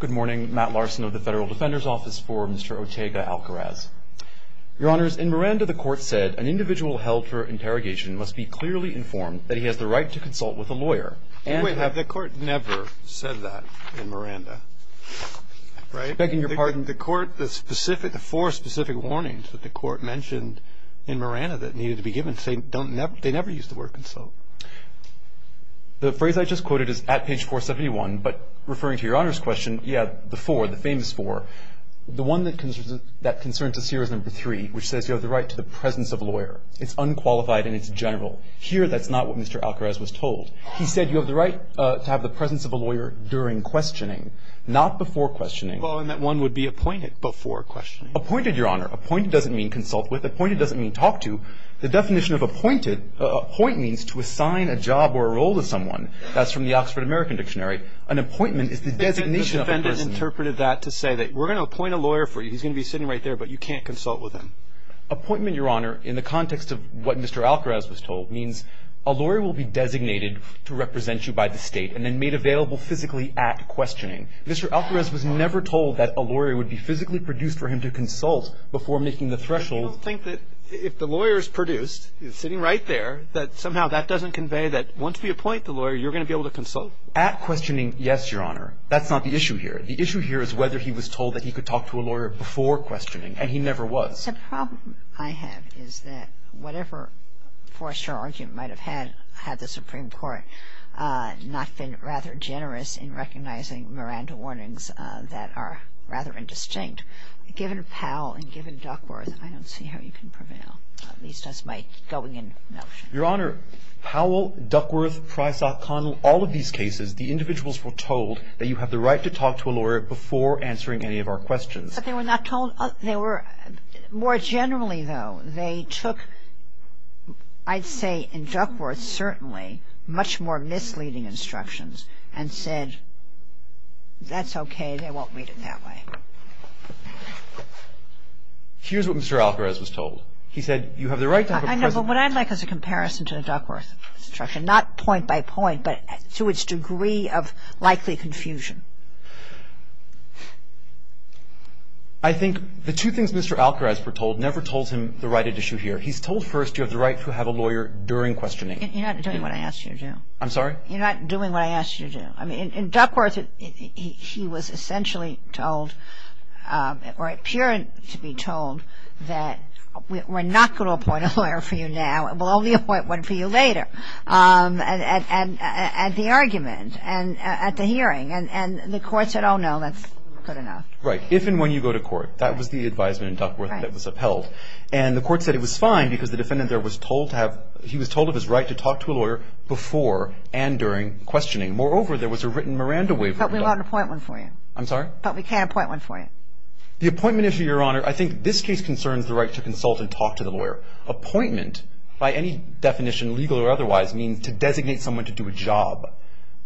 Good morning. Matt Larson of the Federal Defender's Office for Mr. Ortega-Algaraz. Your Honors, in Miranda, the Court said, an individual held for interrogation must be clearly informed that he has the right to consult with a lawyer. Wait, have the Court never said that in Miranda? Begging your pardon? The Court, the specific, the four specific warnings that the Court mentioned in Miranda that needed to be given, they never used the word consult. The phrase I just quoted is at page 471, but referring to Your Honor's question, yeah, the four, the famous four. The one that concerns us here is number three, which says you have the right to the presence of a lawyer. It's unqualified and it's general. Here, that's not what Mr. Algaraz was told. He said you have the right to have the presence of a lawyer during questioning, not before questioning. Well, and that one would be appointed before questioning. Appointed, Your Honor. Appointed doesn't mean consult with. Appointed doesn't mean talk to. The definition of appointed, appoint means to assign a job or a role to someone. That's from the Oxford American Dictionary. An appointment is the designation of a person. The defendant interpreted that to say that we're going to appoint a lawyer for you. He's going to be sitting right there, but you can't consult with him. Appointment, Your Honor, in the context of what Mr. Algaraz was told, means a lawyer will be designated to represent you by the State and then made available physically at questioning. Mr. Algaraz was never told that a lawyer would be physically produced for him to consult before making the threshold. I don't think that if the lawyer is produced, he's sitting right there, that somehow that doesn't convey that once we appoint the lawyer, you're going to be able to consult. At questioning, yes, Your Honor. That's not the issue here. The issue here is whether he was told that he could talk to a lawyer before questioning, and he never was. The problem I have is that whatever foreshore argument might have had, had the Supreme Court not been rather generous in recognizing Miranda warnings that are rather indistinct. Given Powell and given Duckworth, I don't see how you can prevail, at least as my going-in notion. Your Honor, Powell, Duckworth, Price, O'Connell, all of these cases, the individuals were told that you have the right to talk to a lawyer before answering any of our questions. But they were not told other – they were – more generally, though, they took, I'd say, in Duckworth, certainly, much more misleading instructions and said, that's okay, they won't read it that way. Here's what Mr. Alcaraz was told. He said, you have the right to have a present – I know, but what I'd like is a comparison to the Duckworth instruction, not point by point, but to its degree of likely confusion. I think the two things Mr. Alcaraz foretold never told him the right issue here. He's told first, you have the right to have a lawyer during questioning. You're not doing what I asked you to do. I'm sorry? You're not doing what I asked you to do. I mean, in Duckworth, he was essentially told, or appeared to be told, that we're not going to appoint a lawyer for you now. We'll only appoint one for you later at the argument and at the hearing. And the court said, oh, no, that's good enough. Right. That was the advisement in Duckworth that was upheld. And the court said it was fine because the defendant there was told to have – he was told of his right to talk to a lawyer before and during questioning. Moreover, there was a written Miranda waiver. But we won't appoint one for you. I'm sorry? But we can't appoint one for you. The appointment issue, Your Honor, I think this case concerns the right to consult and talk to the lawyer. Appointment, by any definition, legal or otherwise, means to designate someone to do a job.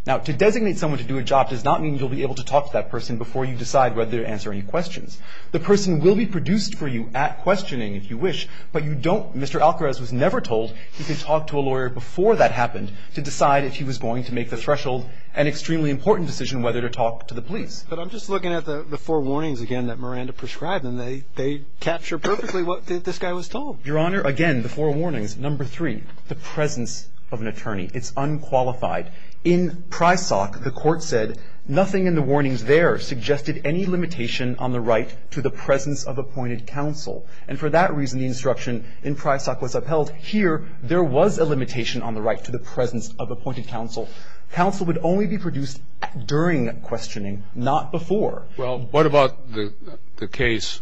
Now, to designate someone to do a job does not mean you'll be able to talk to that person before you decide whether to answer any questions. The person will be produced for you at questioning, if you wish, but you don't – Mr. Alcarez was never told he could talk to a lawyer before that happened to decide if he was going to make the threshold and extremely important decision whether to talk to the police. But I'm just looking at the four warnings, again, that Miranda prescribed, and they capture perfectly what this guy was told. Your Honor, again, the four warnings. Number three, the presence of an attorney. It's unqualified. In Prysock, the court said nothing in the warnings there suggested any limitation on the right to the presence of appointed counsel. And for that reason, the instruction in Prysock was upheld. Here, there was a limitation on the right to the presence of appointed counsel. Counsel would only be produced during questioning, not before. Well, what about the case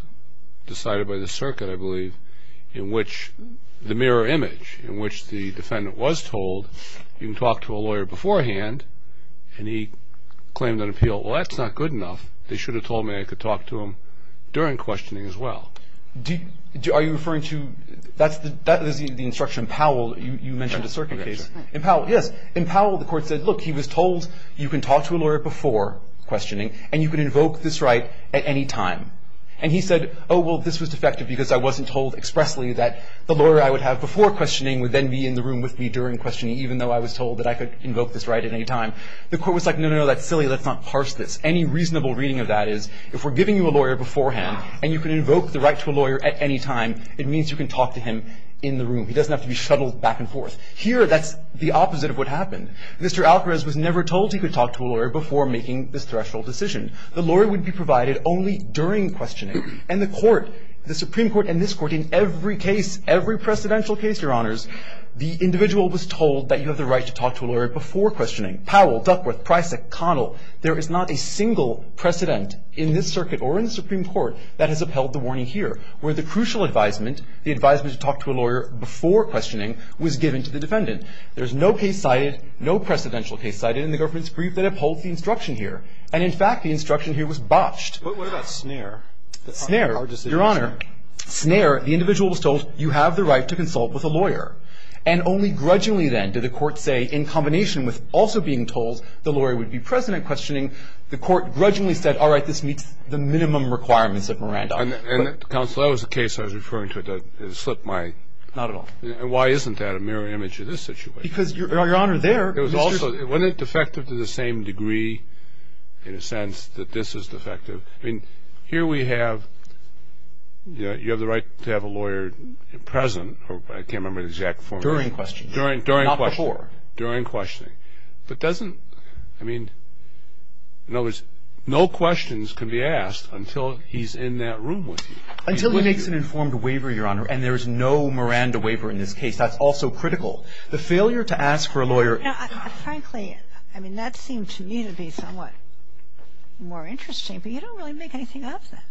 decided by the circuit, I believe, in which the mirror image in which the defendant was told you can talk to a lawyer beforehand, and he claimed an appeal. Well, that's not good enough. They should have told me I could talk to him during questioning as well. Are you referring to the instruction Powell? You mentioned a circuit case. In Powell, yes. In Powell, the court said, look, he was told you can talk to a lawyer before questioning, and you can invoke this right at any time. And he said, oh, well, this was defective because I wasn't told expressly that the lawyer I would have before questioning would then be in the room with me during questioning, even though I was told that I could invoke this right at any time. The court was like, no, no, no, that's silly. Let's not parse this. Any reasonable reading of that is if we're giving you a lawyer beforehand and you can invoke the right to a lawyer at any time, it means you can talk to him in the room. He doesn't have to be shuttled back and forth. Here, that's the opposite of what happened. Mr. Alcarez was never told he could talk to a lawyer before making this threshold decision. The lawyer would be provided only during questioning. And the Court, the Supreme Court and this Court, in every case, every precedential case, Your Honors, the individual was told that you have the right to talk to a lawyer before questioning. Powell, Duckworth, Prisak, Connell, there is not a single precedent in this circuit or in the Supreme Court that has upheld the warning here, where the crucial advisement, the advisement to talk to a lawyer before questioning, was given to the defendant. There's no case cited, no precedential case cited in the government's brief that upholds the instruction here. And in fact, the instruction here was botched. But what about Snare? Snare, Your Honor, Snare, the individual was told you have the right to consult with a lawyer. And only grudgingly, then, did the Court say, in combination with also being told the lawyer would be present at questioning, the Court grudgingly said, all right, this meets the minimum requirements of Miranda. And, Counsel, that was a case I was referring to that slipped my mind. Not at all. And why isn't that a mirror image of this situation? Because, Your Honor, there, Mr. Wasn't it defective to the same degree, in a sense, that this is defective? I mean, here we have, you know, you have the right to have a lawyer present, or I can't remember the exact form. During questioning. During questioning. Not before. During questioning. But doesn't, I mean, in other words, no questions can be asked until he's in that room with you. Until he makes an informed waiver, Your Honor. And there is no Miranda waiver in this case. That's also critical. The failure to ask for a lawyer. Frankly, I mean, that seemed to me to be somewhat more interesting. But you don't really make anything of that.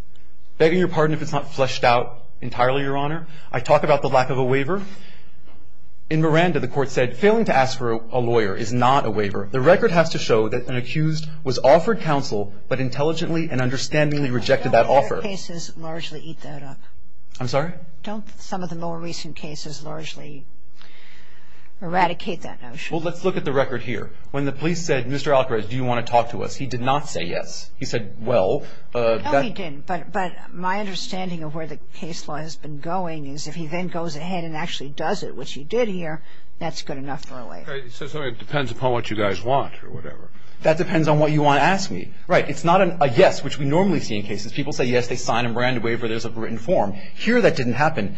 Begging your pardon if it's not fleshed out entirely, Your Honor. I talk about the lack of a waiver. In Miranda, the court said, failing to ask for a lawyer is not a waiver. The record has to show that an accused was offered counsel, but intelligently and understandingly rejected that offer. Don't other cases largely eat that up? I'm sorry? Don't some of the more recent cases largely eradicate that notion? Well, let's look at the record here. When the police said, Mr. Alcaraz, do you want to talk to us, he did not say yes. He said, well. No, he didn't. But my understanding of where the case law has been going is if he then goes ahead and actually does it, which he did here, that's good enough for a lawyer. So it depends upon what you guys want or whatever. That depends on what you want to ask me. Right. It's not a yes, which we normally see in cases. People say yes, they sign a Miranda waiver, there's a written form. Here that didn't happen.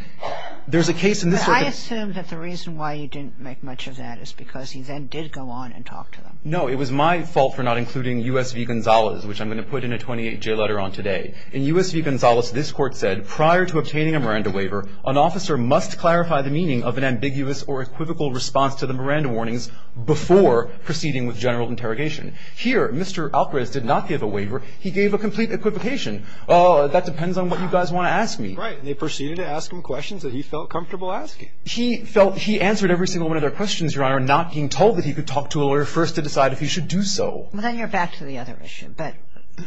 There's a case in this circuit. I assume that the reason why you didn't make much of that is because he then did go on and talk to them. No, it was my fault for not including U.S. v. Gonzalez, which I'm going to put in a 28-J letter on today. In U.S. v. Gonzalez, this Court said prior to obtaining a Miranda waiver, an officer must clarify the meaning of an ambiguous or equivocal response to the Miranda warnings before proceeding with general interrogation. Here, Mr. Alcaraz did not give a waiver. He gave a complete equivocation. That depends on what you guys want to ask me. Right. They proceeded to ask him questions that he felt comfortable asking. He felt he answered every single one of their questions, Your Honor, not being told that he could talk to a lawyer first to decide if he should do so. Well, then you're back to the other issue, but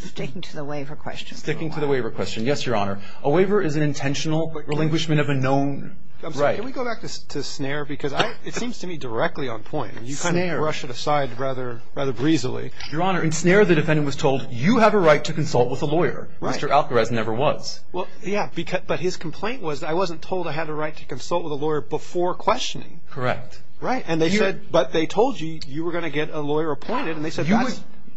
sticking to the waiver question. Sticking to the waiver question. Yes, Your Honor. A waiver is an intentional relinquishment of a known right. Can we go back to Snare? Because it seems to me directly on point. Snare. You kind of brush it aside rather breezily. Your Honor, in Snare, the defendant was told, you have a right to consult with a lawyer. Right. Mr. Alcaraz never was. Well, yeah, but his complaint was, I wasn't told I had a right to consult with a lawyer before questioning. Correct. Right. And they said, but they told you you were going to get a lawyer appointed.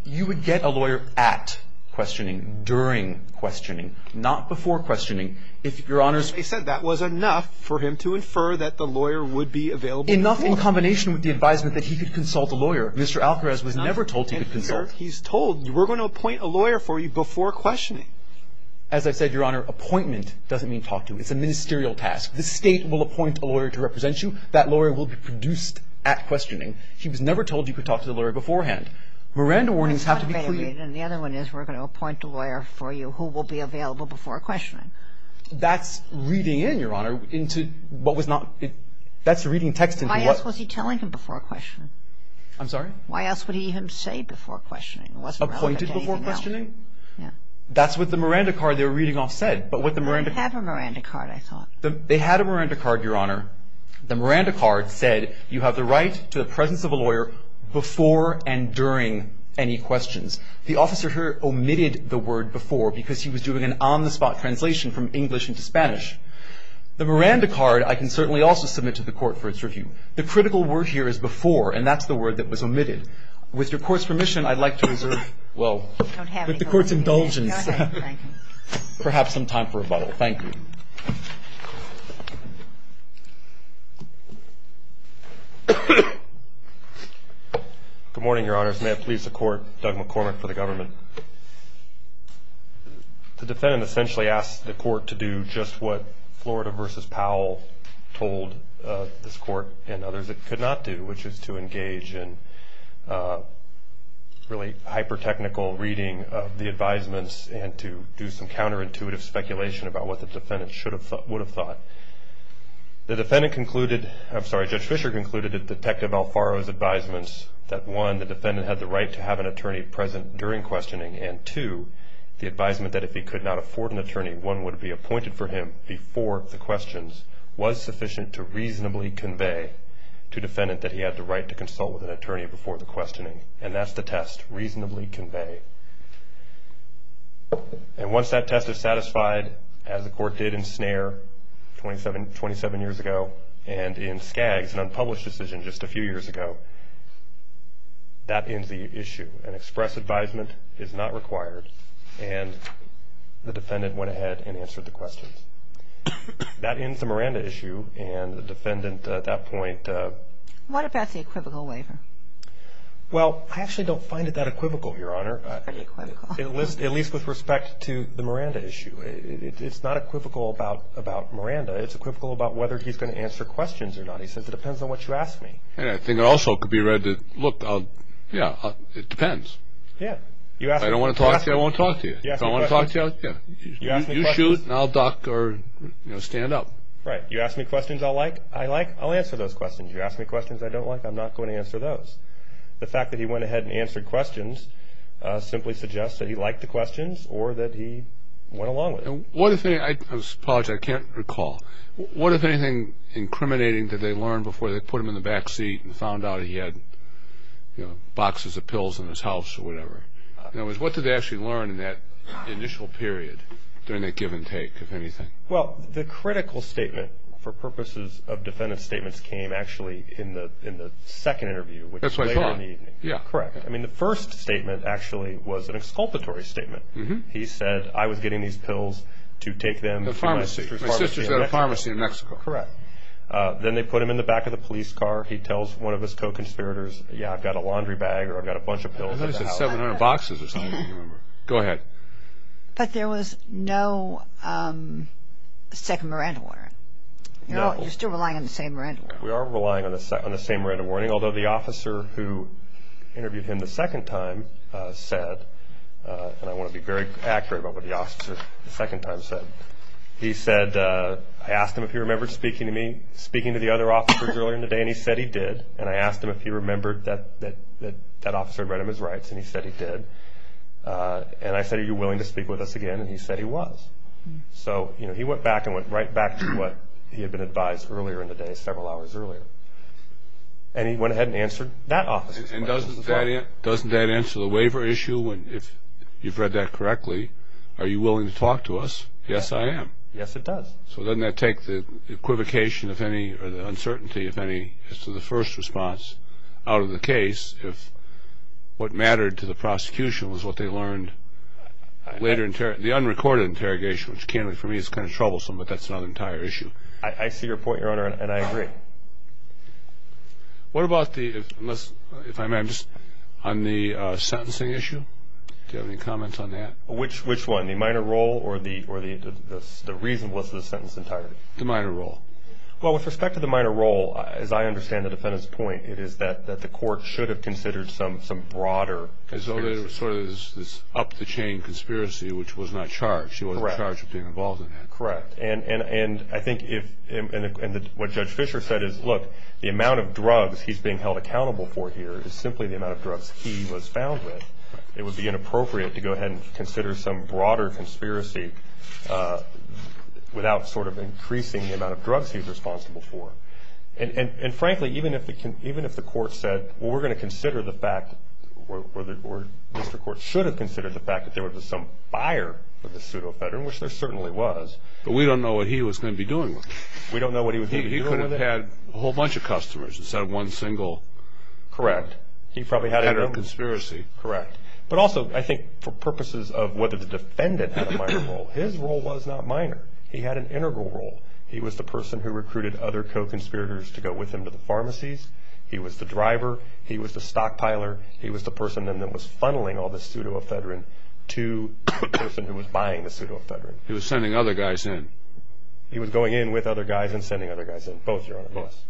You would get a lawyer at questioning, during questioning, not before questioning. They said that was enough for him to infer that the lawyer would be available. Enough in combination with the advisement that he could consult a lawyer. Mr. Alcaraz was never told he could consult. He's told, we're going to appoint a lawyer for you before questioning. As I've said, Your Honor, appointment doesn't mean talk to. It's a ministerial task. The State will appoint a lawyer to represent you. That lawyer will be produced at questioning. He was never told you could talk to the lawyer beforehand. Miranda warnings have to be clear. And the other one is, we're going to appoint a lawyer for you who will be available before questioning. That's reading in, Your Honor, into what was not – that's reading text into what – Why else was he telling him before questioning? I'm sorry? Why else would he even say before questioning? It wasn't relevant to anything else. Appointed before questioning? Yeah. That's what the Miranda card they were reading off said. But what the Miranda – They didn't have a Miranda card, I thought. They had a Miranda card, Your Honor. The Miranda card said you have the right to the presence of a lawyer before and during any questions. The officer here omitted the word before because he was doing an on-the-spot translation from English into Spanish. The Miranda card I can certainly also submit to the Court for its review. The critical word here is before, and that's the word that was omitted. With your Court's permission, I'd like to reserve – well, with the Court's indulgence – You don't have any indulgence. Go ahead. Thank you. Perhaps some time for rebuttal. Thank you. Good morning, Your Honors. May it please the Court, Doug McCormick for the government. The defendant essentially asked the Court to do just what Florida v. Powell told this Court and others it could not do, which is to engage in really hyper-technical reading of the advisements and to do some counterintuitive speculation about what the defendant would have thought. The defendant concluded – I'm sorry, Judge Fischer concluded – that Detective Alfaro's advisements that, one, the defendant had the right to have an attorney present during questioning, and, two, the advisement that if he could not afford an attorney, one would be appointed for him before the questions, was sufficient to reasonably convey to defendant that he had the right to consult with an attorney before the questioning. And that's the test, reasonably convey. And once that test is satisfied, as the Court did in Snare 27 years ago, and in Skaggs, an unpublished decision just a few years ago, that ends the issue. An express advisement is not required, and the defendant went ahead and answered the questions. That ends the Miranda issue, and the defendant at that point – What about the equivocal waiver? Well, I actually don't find it that equivocal, Your Honor. Any equivocal? At least with respect to the Miranda issue. It's not equivocal about Miranda. It's equivocal about whether he's going to answer questions or not. He says, it depends on what you ask me. And I think it also could be read that, look, yeah, it depends. Yeah. If I don't want to talk to you, I won't talk to you. If I want to talk to you, yeah. You ask me questions. You shoot, and I'll duck or stand up. Right. You ask me questions I like, I like. I'll answer those questions. You ask me questions I don't like, I'm not going to answer those. The fact that he went ahead and answered questions simply suggests that he liked the questions or that he went along with it. I apologize, I can't recall. What, if anything, incriminating did they learn before they put him in the back seat and found out he had boxes of pills in his house or whatever? In other words, what did they actually learn in that initial period during that give and take, if anything? Well, the critical statement for purposes of defendant statements came actually in the second interview, which was later in the evening. That's what I thought. Yeah. Correct. I mean, the first statement actually was an exculpatory statement. He said, I was getting these pills to take them to my sister's pharmacy. The pharmacy. My sister's got a pharmacy in Mexico. Correct. Then they put him in the back of the police car. He tells one of his co-conspirators, yeah, I've got a laundry bag or I've got a bunch of pills at the house. I think he said 700 boxes or something, I don't remember. Go ahead. But there was no second Miranda warning. No. You're still relying on the same Miranda warning. We are relying on the same Miranda warning, although the officer who interviewed him the second time said, and I want to be very accurate about what the officer the second time said, he said, I asked him if he remembered speaking to me, speaking to the other officers earlier in the day, and he said he did, and I asked him if he remembered that that officer had read him his rights, and he said he did. And I said, are you willing to speak with us again? And he said he was. So, you know, he went back and went right back to what he had been advised earlier in the day, several hours earlier. And he went ahead and answered that officer's questions as well. And doesn't that answer the waiver issue? If you've read that correctly, are you willing to talk to us? Yes, I am. Yes, it does. So doesn't that take the equivocation, if any, or the uncertainty, if any, as to the first response out of the case if what mattered to the prosecution was what they learned later? The unrecorded interrogation, which for me is kind of troublesome, but that's another entire issue. I see your point, Your Honor, and I agree. What about the, if I may, on the sentencing issue? Do you have any comments on that? Which one, the minor role or the reasonableness of the sentence entirely? The minor role. Well, with respect to the minor role, as I understand the defendant's point, it is that the court should have considered some broader conspiracy. So there was sort of this up-the-chain conspiracy, which was not charged. Correct. She wasn't charged with being involved in that. Correct. And I think if, and what Judge Fischer said is, look, the amount of drugs he's being held accountable for here is simply the amount of drugs he was found with. It would be inappropriate to go ahead and consider some broader conspiracy without sort of increasing the amount of drugs he was responsible for. And frankly, even if the court said, well, we're going to consider the fact, or Mr. Court should have considered the fact that there was some fire with the pseudo-veteran, which there certainly was. But we don't know what he was going to be doing with it. We don't know what he was going to be doing with it. He could have had a whole bunch of customers instead of one single. Correct. He probably had no conspiracy. Correct. But also, I think for purposes of whether the defendant had a minor role, his role was not minor. He had an integral role. He was the person who recruited other co-conspirators to go with him to the pharmacies. He was the driver. He was the stockpiler. He was the person then that was funneling all this pseudo-veteran to the person who was buying the pseudo-veteran. He was sending other guys in. He was going in with other guys and sending other guys in. Both, Your Honor. Both.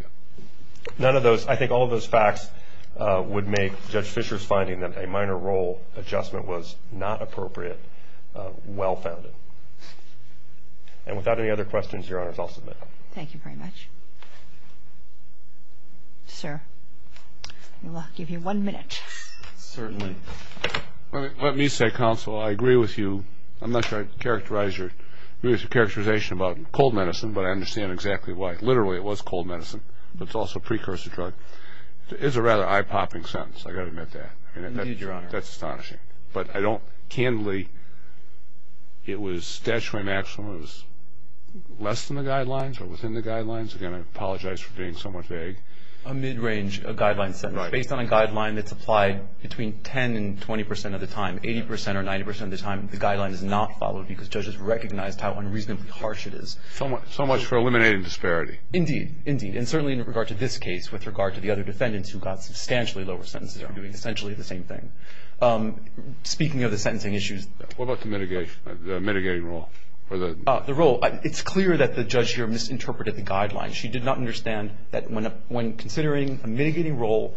None of those. I think all of those facts would make Judge Fischer's finding that a minor role adjustment was not appropriate well-founded. And without any other questions, Your Honors, I'll submit. Thank you very much. Sir, we'll give you one minute. Certainly. Let me say, Counsel, I agree with you. I'm not sure I'd characterize your characterization about cold medicine, but I understand exactly why. Literally, it was cold medicine, but it's also a precursor drug. It's a rather eye-popping sentence. I've got to admit that. Indeed, Your Honor. That's astonishing. But I don't, candidly, it was statutory maximum. It was less than the guidelines or within the guidelines. Again, I apologize for being somewhat vague. A mid-range guideline sentence. Right. Based on a guideline that's applied between 10% and 20% of the time, 80% or 90% of the time, the guideline is not followed because judges recognized how unreasonably harsh it is. So much for eliminating disparity. Indeed. Indeed. And certainly in regard to this case with regard to the other defendants who got substantially lower sentences are doing essentially the same thing. Speaking of the sentencing issues. What about the mitigating role? The role. It's clear that the judge here misinterpreted the guidelines. She did not understand that when considering a mitigating role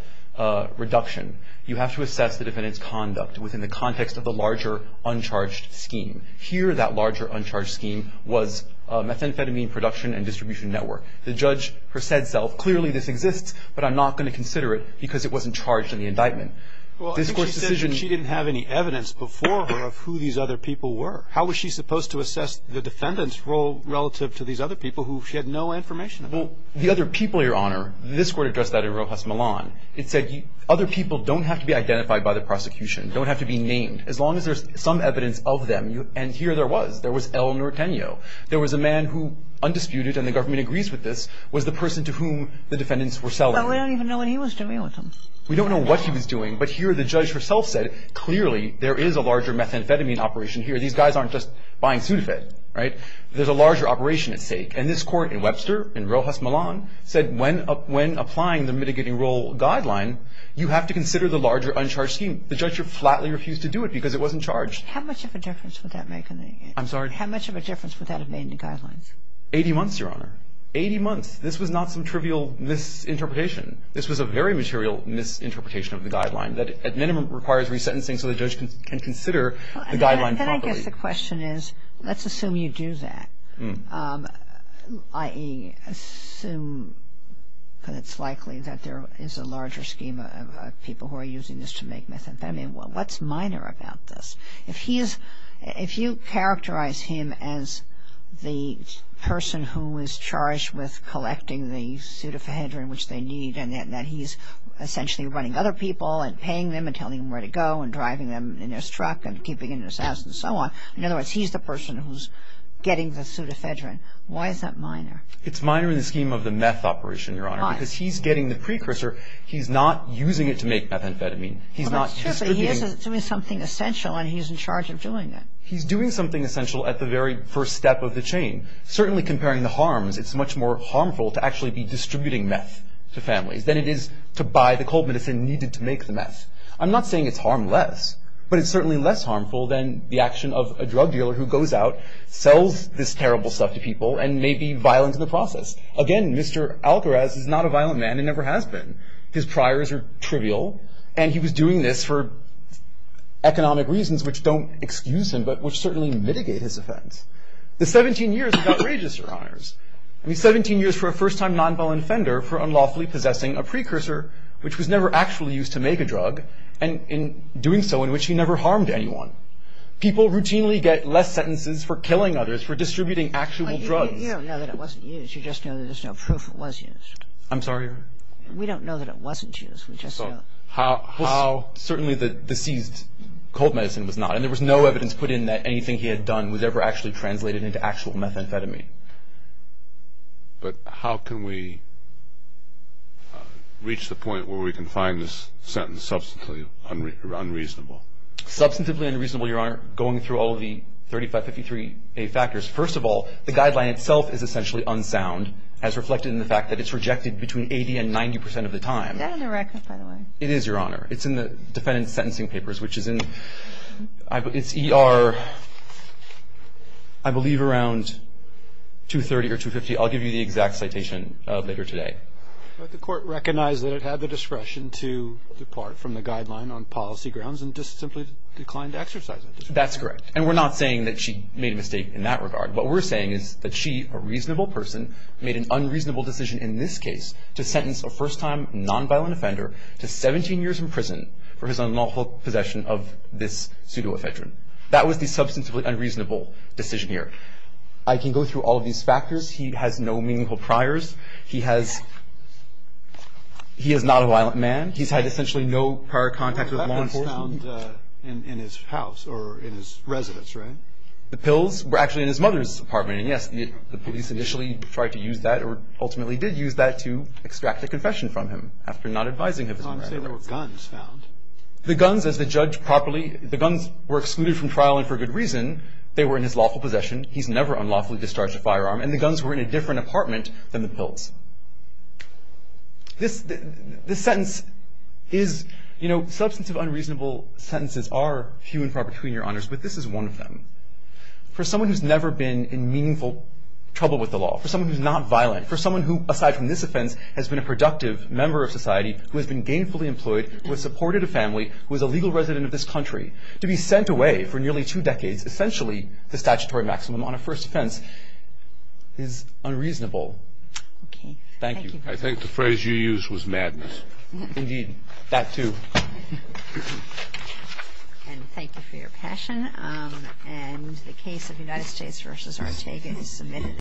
reduction, you have to assess the defendant's conduct within the context of the larger uncharged scheme. Here that larger uncharged scheme was methamphetamine production and distribution network. The judge herself said clearly this exists, but I'm not going to consider it because it wasn't charged in the indictment. Well, I think she said she didn't have any evidence before her of who these other people were. How was she supposed to assess the defendant's role relative to these other people who she had no information about? Well, the other people, Your Honor, this court addressed that in Rojas Milan. It said other people don't have to be identified by the prosecution, don't have to be named. As long as there's some evidence of them, and here there was. There was El Norteno. There was a man who undisputed, and the government agrees with this, was the person to whom the defendants were selling. Well, we don't even know what he was doing with them. We don't know what he was doing, but here the judge herself said clearly there is a larger methamphetamine operation here. These guys aren't just buying Sudafed, right? There's a larger operation at stake, and this court in Webster, in Rojas Milan, said when applying the mitigating role guideline, you have to consider the larger uncharged scheme. The judge flatly refused to do it because it wasn't charged. How much of a difference would that make? I'm sorry? How much of a difference would that have made in the guidelines? Eighty months, Your Honor. Eighty months. This was not some trivial misinterpretation. This was a very material misinterpretation of the guideline that, at minimum, requires resentencing so the judge can consider the guideline properly. Then I guess the question is, let's assume you do that. I assume that it's likely that there is a larger scheme of people who are using this to make methamphetamine. What's minor about this? If you characterize him as the person who is charged with collecting the Sudafedrin which they need and that he's essentially running other people and paying them and telling them where to go and driving them in his truck and keeping them in his house and so on, in other words, he's the person who's getting the Sudafedrin. Why is that minor? It's minor in the scheme of the meth operation, Your Honor. Why? Because he's getting the precursor. He's not using it to make methamphetamine. He's not distributing it. Well, that's true, but he is doing something essential and he's in charge of doing it. He's doing something essential at the very first step of the chain. Certainly comparing the harms, it's much more harmful to actually be distributing meth to families than it is to buy the cold medicine needed to make the meth. I'm not saying it's harmless, but it's certainly less harmful than the action of a drug dealer who goes out, sells this terrible stuff to people and may be violent in the process. Again, Mr. Algaraz is not a violent man and never has been. His priors are trivial and he was doing this for economic reasons which don't excuse him but which certainly mitigate his offense. The 17 years without rages, Your Honors. I mean, 17 years for a first-time nonviolent offender for unlawfully possessing a precursor which was never actually used to make a drug and in doing so in which he never harmed anyone. People routinely get less sentences for killing others, for distributing actual drugs. You don't know that it wasn't used. You just know that there's no proof it was used. I'm sorry, Your Honor? We don't know that it wasn't used. Certainly the seized cold medicine was not and there was no evidence put in that anything he had done was ever actually translated into actual methamphetamine. But how can we reach the point where we can find this sentence substantively unreasonable? Substantively unreasonable, Your Honor, going through all of the 3553A factors. First of all, the guideline itself is essentially unsound as reflected in the fact that it's rejected between 80 and 90 percent of the time. Is that on the record, by the way? It is, Your Honor. It's in the defendant's sentencing papers which is in, it's ER, I believe around 230 or 250. I'll give you the exact citation later today. But the court recognized that it had the discretion to depart from the guideline on policy grounds and just simply declined to exercise it. That's correct. And we're not saying that she made a mistake in that regard. What we're saying is that she, a reasonable person, made an unreasonable decision in this case to sentence a first-time nonviolent offender to 17 years in prison for his unlawful possession of this pseudoephedrine. That was the substantively unreasonable decision here. I can go through all of these factors. He has no meaningful priors. He has, he is not a violent man. He's had essentially no prior contact with law enforcement. That was found in his house or in his residence, right? The pills were actually in his mother's apartment. And yes, the police initially tried to use that or ultimately did use that to extract a confession from him after not advising him. I'm saying there were guns found. The guns, as the judge properly, the guns were excluded from trial and for good reason. They were in his lawful possession. He's never unlawfully discharged a firearm. And the guns were in a different apartment than the pills. This sentence is, you know, substantive unreasonable sentences are few and far between, Your Honors, but this is one of them. For someone who's never been in meaningful trouble with the law, for someone who's not violent, for someone who, aside from this offense, has been a productive member of society, who has been gainfully employed, who has supported a family, who is a legal resident of this country, to be sent away for nearly two decades, essentially the statutory maximum on a first offense, is unreasonable. Thank you. I think the phrase you used was madness. Indeed, that too. And thank you for your passion. And the case of United States v. Ortega is submitted.